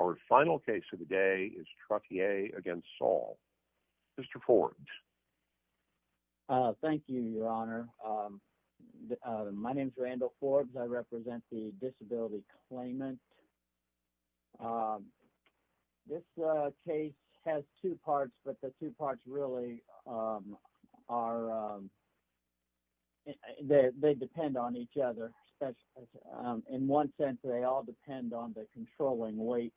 Our final case of the day is Trottier against Saul. Mr. Forbes. Thank you, your honor. My name is Randall Forbes. I represent the disability claimant. This case has two parts, but the two parts really are, they depend on each other. In one sense, they all depend on the controlling weight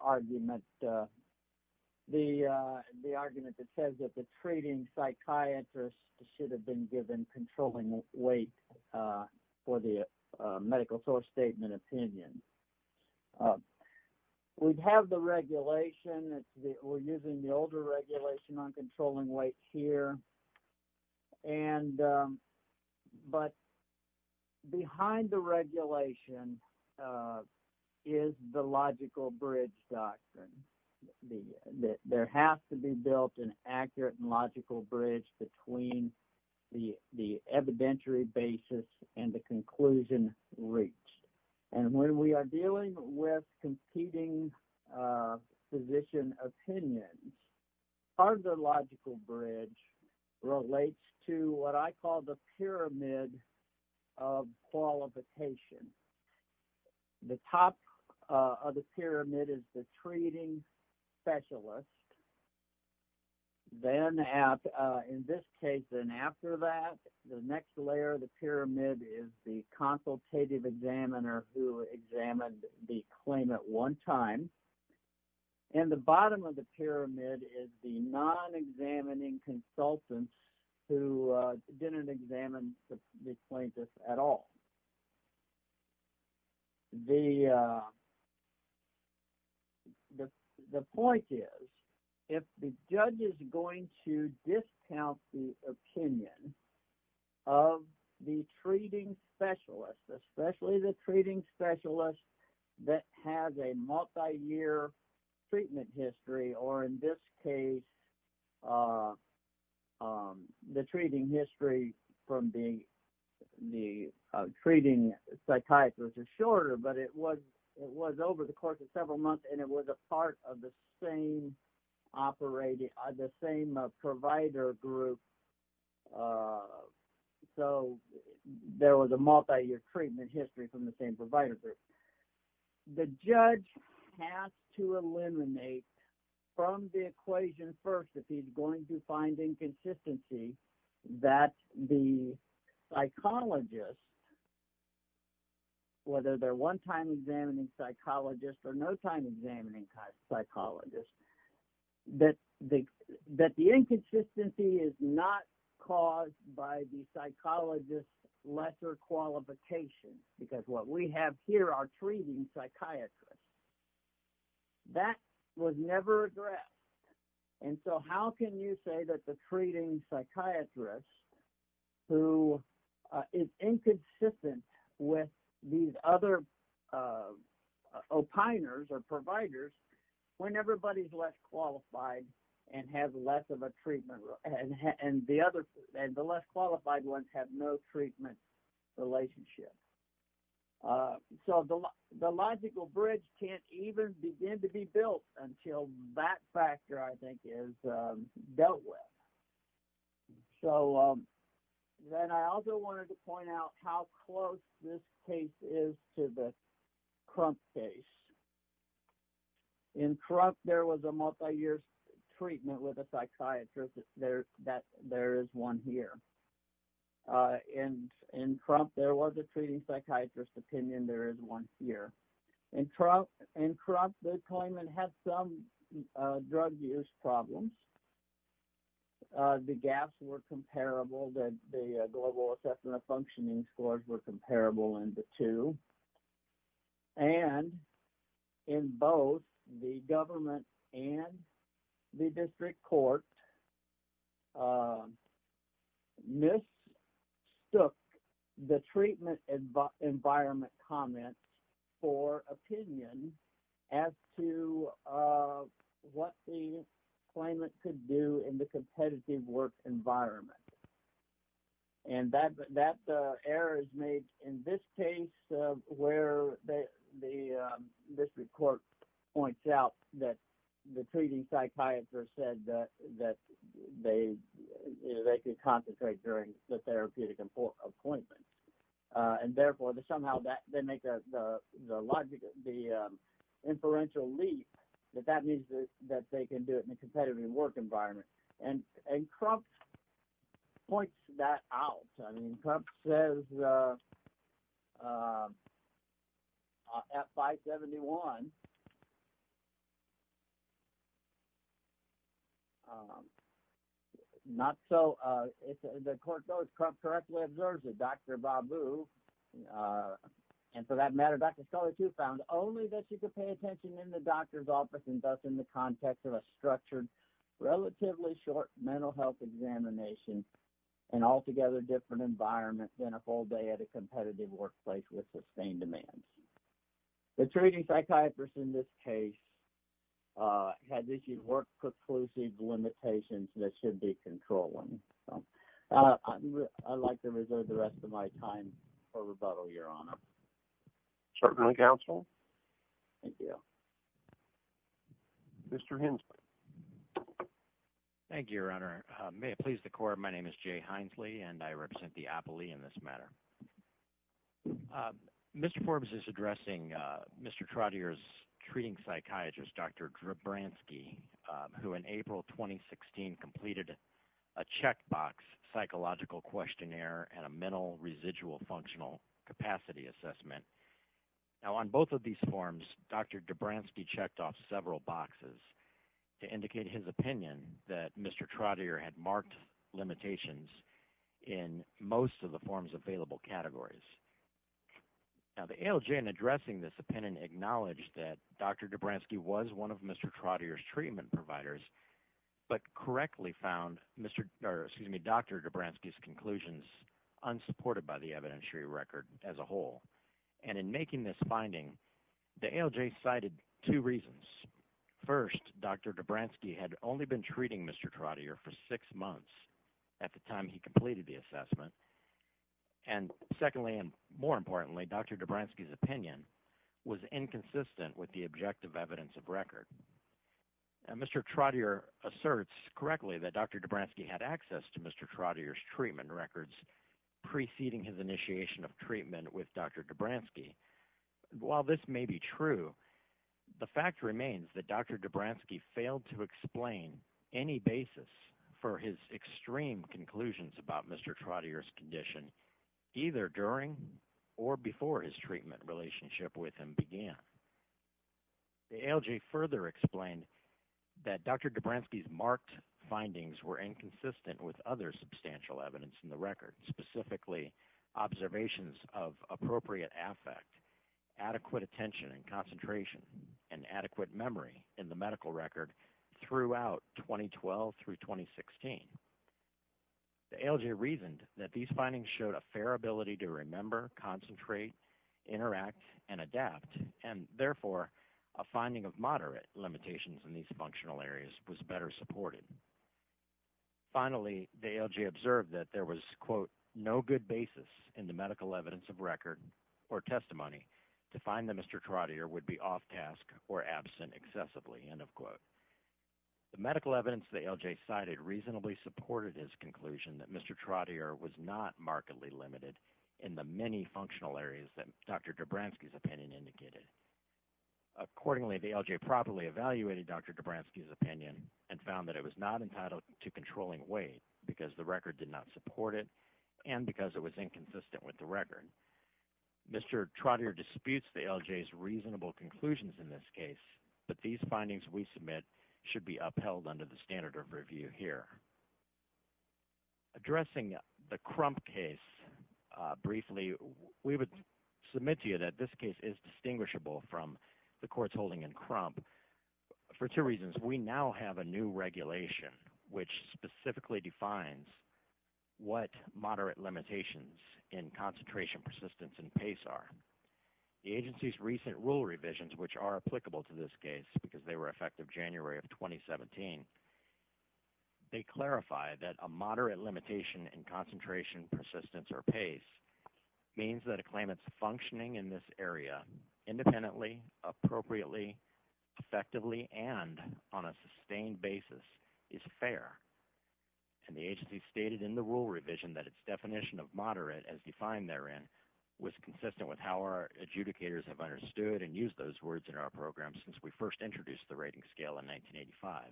argument. The argument that says that the treating psychiatrist should have been given controlling weight for the medical source statement opinion. We have the regulation, we're using the older regulation on controlling weight here. But behind the regulation is the logical bridge doctrine. There has to be built an accurate and logical bridge between the evidentiary basis and the conclusion reached. When we are dealing with competing physician opinions, part of the logical bridge relates to what I call the pyramid of qualification. The top of the pyramid is the treating specialist. Then in this case and after that, the next layer of the pyramid is the consultative examiner who examined the claim at one time. The bottom of the pyramid is the non-examining consultant who didn't examine the plaintiff at all. The point is, if the judge is going to discount the opinion of the treating specialist, especially the treating specialist that has a multiyear treatment history or in this case, the treating history from the treating psychiatrist is shorter, but it was over the course of several months and it was a part of the same provider group so there was a multiyear treatment history from the same provider group. The judge has to eliminate from the equation first if he's going to find inconsistency that the psychologist, whether they're one time examining psychologist or no time examining psychologist, that the inconsistency is not caused by the psychologist's lesser qualification because what we have here are treating psychiatrists. That was never addressed. How can you say that the treating psychiatrist who is inconsistent with these other opiners or providers when everybody is less qualified and the less qualified ones have no treatment relationship? The logical bridge can't even begin to be built until that factor is dealt with. I also wanted to point out how close this case is to the Crump case. In Crump, there was a multiyear treatment with a psychiatrist. There is one here. In Crump, there was a treating psychiatrist opinion. There is one here. In Crump, the claimant had some drug use problems. The gaps were comparable. The global assessment of functioning scores were comparable in the two. In both, the government and the district court mistook the treatment environment comments for opinion as to what the claimant could do in the competitive work environment. That error is made in this case where the district court points out that the treating psychiatrist said that they could concentrate during the therapeutic appointment. Therefore, somehow, they make the inferential leap that that means they can do it in a competitive work environment. Crump points that out. Crump says at 571, not so, as the court goes, Crump correctly observes that Dr. Babu, and for that matter, Dr. Scully too, found only that she could pay attention in the doctor's office and thus in the context of a structured, relatively short mental health examination in altogether different environments than a full day at a competitive workplace with sustained demands. The treating psychiatrist in this case had work preclusive limitations that should be controlling. I would like to reserve the rest of my time for rebuttal, Your Honor. Certainly, counsel. Thank you. Mr. Hensley. Thank you, Your Honor. May it please the court, my name is Jay Hensley, and I represent the appellee in this matter. Mr. Forbes is addressing Mr. Trottier's treating psychiatrist, Dr. Drabransky, who in April 2016 completed a checkbox psychological questionnaire and a mental residual functional capacity assessment. Now, on both of these forms, Dr. Drabransky checked off several boxes to indicate his opinion that Mr. Trottier had marked limitations in most of the forms available categories. Now, the ALJ in addressing this opinion acknowledged that Dr. Drabransky was one of Mr. Trottier's treatment providers, but correctly found Dr. Drabransky's conclusions unsupported by the evidentiary record as a whole. And in making this finding, the ALJ cited two reasons. First, Dr. Drabransky had only been treating Mr. Trottier for six months at the time he completed the assessment. And secondly, and more importantly, Dr. Drabransky's opinion was inconsistent with the objective evidence of record. Mr. Trottier asserts correctly that Dr. Drabransky had access to Mr. Trottier's treatment records preceding his initiation of treatment with Dr. Drabransky. While this may be true, the fact remains that Dr. Drabransky failed to explain any basis for his extreme conclusions about Mr. Trottier's condition either during or before his treatment relationship with him began. The ALJ further explained that Dr. Drabransky's marked findings were inconsistent with other of appropriate affect, adequate attention and concentration, and adequate memory in the medical record throughout 2012 through 2016. The ALJ reasoned that these findings showed a fair ability to remember, concentrate, interact, and adapt, and therefore a finding of moderate limitations in these functional areas was better supported. Finally, the ALJ observed that there was, quote, no good basis in the medical evidence of record or testimony to find that Mr. Trottier would be off task or absent excessively, end of quote. The medical evidence the ALJ cited reasonably supported his conclusion that Mr. Trottier was not markedly limited in the many functional areas that Dr. Drabransky's opinion indicated. Accordingly, the ALJ properly evaluated Dr. Drabransky's opinion and found that it was not entitled to controlling weight because the and because it was inconsistent with the record. Mr. Trottier disputes the ALJ's reasonable conclusions in this case, but these findings we submit should be upheld under the standard of review here. Addressing the Crump case briefly, we would submit to you that this case is distinguishable from the courts holding in Crump for two reasons. We now have a new regulation which specifically defines what moderate limitations in concentration, persistence, and pace are. The agency's recent rule revisions, which are applicable to this case because they were effective January of 2017, they clarify that a moderate limitation in concentration, persistence, or pace means that a claimant's functioning in this area independently, appropriately, effectively, and on a sustained basis is fair. And the agency stated in the rule revision that its definition of moderate as defined therein was consistent with how our adjudicators have understood and used those words in our program since we first introduced the rating scale in 1985.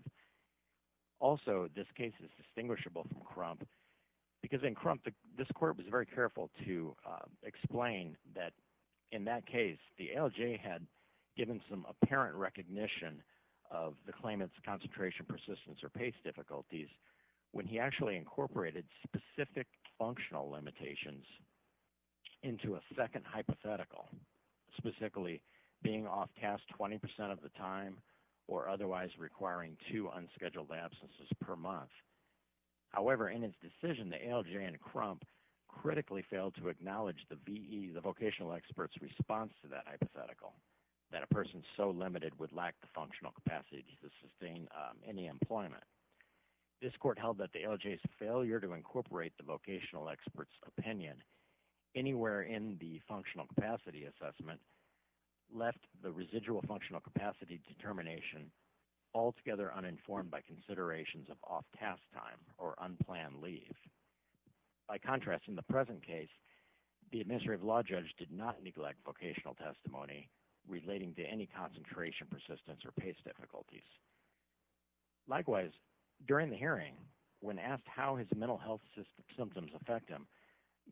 Also, this case is distinguishable from Crump because in Crump, this court was very careful to explain that in that case, the ALJ had given some apparent recognition of the claimant's concentration, persistence, or pace difficulties when he actually incorporated specific functional limitations into a second hypothetical, specifically being off task 20% of the time or otherwise requiring two unscheduled absences per month. However, in his decision, the ALJ and Crump critically failed to acknowledge the VE, the vocational expert's response to that hypothetical, that a person so limited would lack the functional capacity to sustain any employment. This court held that the ALJ's failure to incorporate the vocational expert's opinion anywhere in the functional capacity assessment left the residual functional capacity determination altogether uninformed by considerations of off task time or unplanned leave. By contrast, in the present case, the administrative law judge did not neglect vocational testimony relating to any concentration, persistence, or pace difficulties. Likewise, during the hearing, when asked how his mental health symptoms affect him,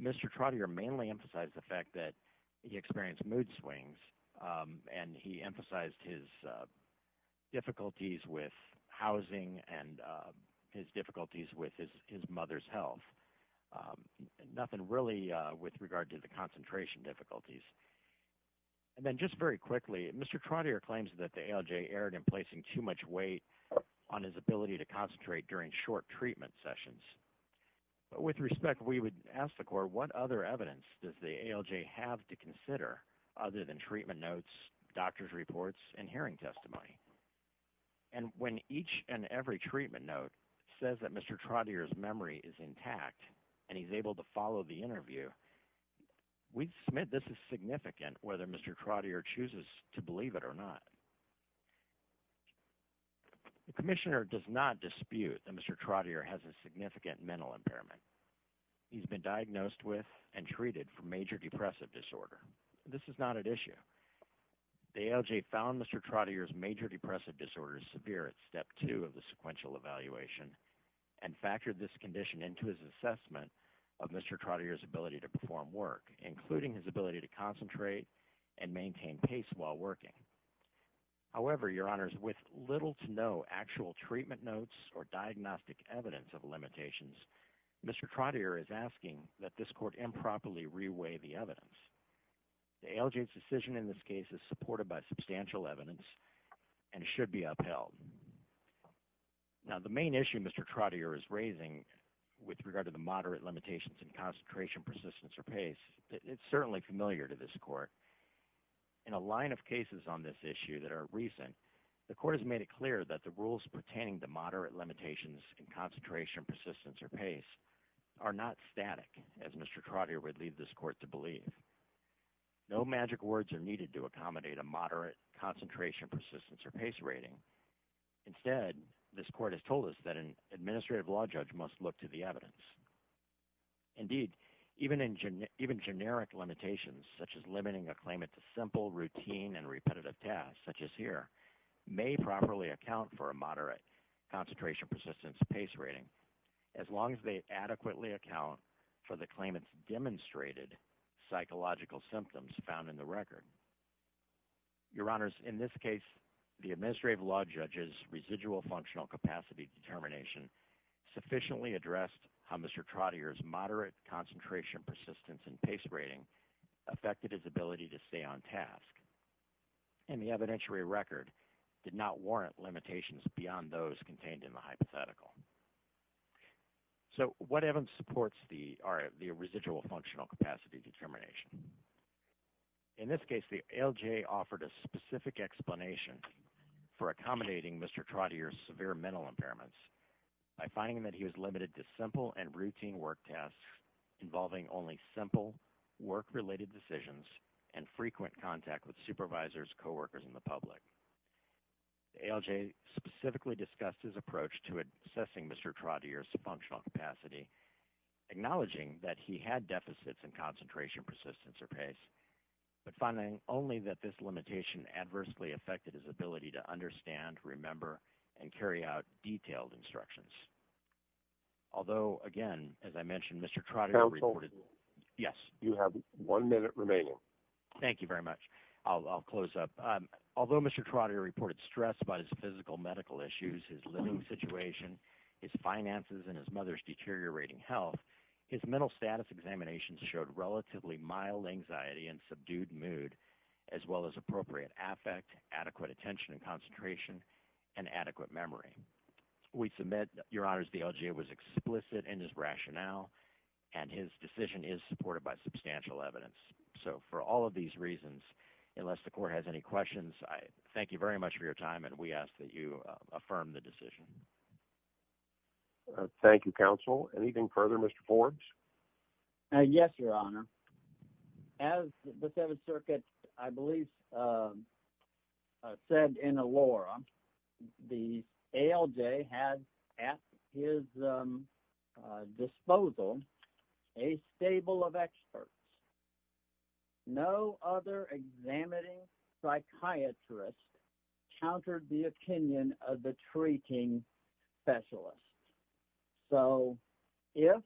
Mr. Trottier mainly emphasized the fact that he experienced mood swings and he emphasized his difficulties with housing and his difficulties with his mother's health. Nothing really with regard to the concentration difficulties. And then just very quickly, Mr. Trottier claims that the ALJ erred in placing too much weight on his ability to concentrate during short treatment sessions. But with respect, we would ask the court, what other evidence does the ALJ have to consider other than treatment notes, doctor's reports, and hearing testimony? And when each and every treatment note says that Mr. Trottier's memory is intact and he's able to follow the interview, we submit this is significant whether Mr. Trottier chooses to believe it or not. The commissioner does not dispute that Mr. Trottier has a significant mental impairment. He's been diagnosed with and treated for major depressive disorder. This is not an issue. The ALJ found Mr. Trottier's major depressive disorder severe at step two of the sequential evaluation and factored this condition into his assessment of Mr. Trottier's ability to perform work, including his ability to concentrate and maintain pace while working. However, your honors, with little to no actual treatment notes or diagnostic evidence of Mr. Trottier is asking that this court improperly reweigh the evidence. The ALJ's decision in this case is supported by substantial evidence and should be upheld. Now, the main issue Mr. Trottier is raising with regard to the moderate limitations in concentration, persistence, or pace, it's certainly familiar to this court. In a line of cases on this issue that are recent, the court has made it clear that the rules are not static, as Mr. Trottier would leave this court to believe. No magic words are needed to accommodate a moderate concentration, persistence, or pace rating. Instead, this court has told us that an administrative law judge must look to the evidence. Indeed, even generic limitations, such as limiting a claimant to simple, routine, and repetitive tasks, such as here, may properly account for a moderate concentration, persistence, and pace rating, as long as they adequately account for the claimant's demonstrated psychological symptoms found in the record. Your honors, in this case, the administrative law judge's residual functional capacity determination sufficiently addressed how Mr. Trottier's moderate concentration, persistence, and pace rating affected his ability to stay on task. And the evidentiary record did not warrant limitations beyond those contained in the hypothetical. So, what evidence supports the residual functional capacity determination? In this case, the LJ offered a specific explanation for accommodating Mr. Trottier's severe mental impairments by finding that he was limited to simple and routine work tasks involving only simple work-related decisions and frequent contact with supervisors, coworkers, and the public. The LJ specifically discussed his approach to assessing Mr. Trottier's functional capacity, acknowledging that he had deficits in concentration, persistence, or pace, but finding only that this limitation adversely affected his ability to understand, remember, and carry out detailed instructions. Although, again, as I mentioned, Mr. Trottier reported- Counsel? Yes. You have one minute remaining. Thank you very much. I'll close up. Although Mr. Trottier reported stress about his physical medical issues, his living situation, his finances, and his mother's deteriorating health, his mental status examinations showed relatively mild anxiety and subdued mood, as well as appropriate affect, adequate attention and concentration, and adequate memory. We submit, Your Honors, the LJ was explicit in his rationale, and his decision is supported by substantial evidence. So, for all of these reasons, unless the Court has any questions, I thank you very much for your time, and we ask that you affirm the decision. Thank you, Counsel. Anything further, Mr. Forbes? Uh, yes, Your Honor. As the Seventh Circuit, I believe, uh, uh, said in Elora, the ALJ had at his, um, uh, disposal a stable of experts. No other examining psychiatrist countered the opinion of the treating specialist. So, if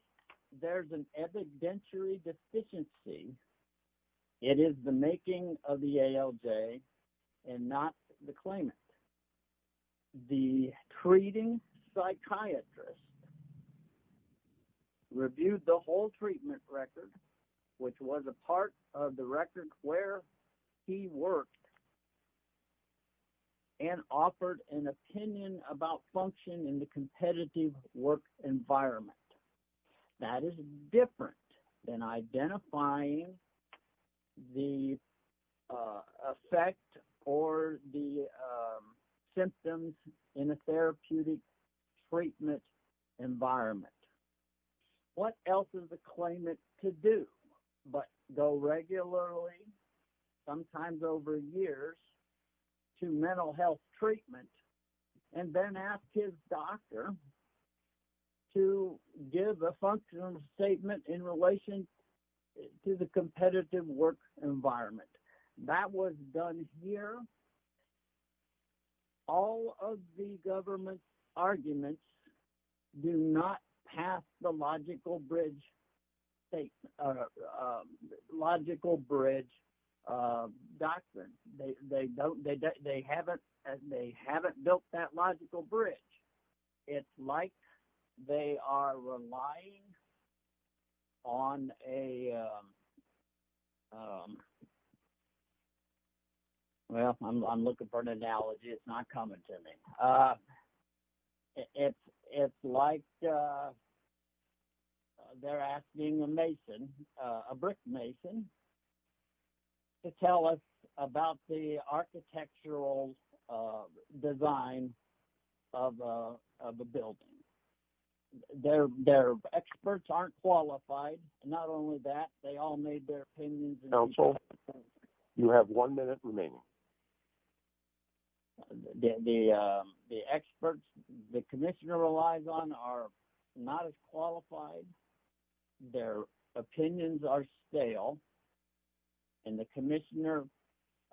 there's an evidentiary deficiency, it is the making of the ALJ and not the claimant. The treating psychiatrist reviewed the whole treatment record, which was a part of the record where he worked, um, and offered an opinion about function in the competitive work environment. That is different than identifying the, uh, effect or the, um, symptoms in a therapeutic treatment environment. What else is a claimant to do but go regularly, sometimes over years, to mental health treatment and then ask his doctor to give a functional statement in relation to the competitive work environment? That was done here. All of the government's arguments do not pass the logical bridge state, uh, uh, logical bridge, uh, doctrine. They, they don't, they, they haven't, they haven't built that logical bridge. It's like they are relying on a, um, um, well, I'm, I'm looking for an analogy. It's not coming to me. Uh, it's, it's like, uh, they're asking a mason, uh, a brick mason to tell us about the of the building. They're, they're experts aren't qualified. Not only that, they all made their opinions. You have one minute remaining. The, um, the experts the commissioner relies on are not as qualified. Their opinions are stale and the commissioner,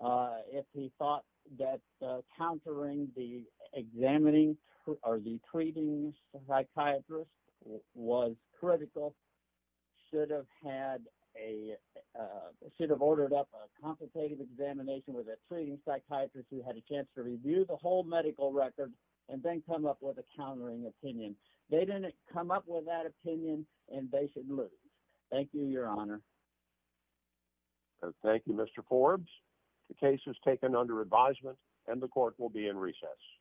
uh, if he thought that, uh, countering the examining or the treating psychiatrist was critical, should have had a, uh, should have ordered up a complicated examination with a treating psychiatrist who had a chance to review the whole medical record and then come up with a countering opinion. They didn't come up with that opinion and they should lose. Thank you, your honor. Thank you, Mr. Forbes. The case has taken under advisement and the court will be in recess.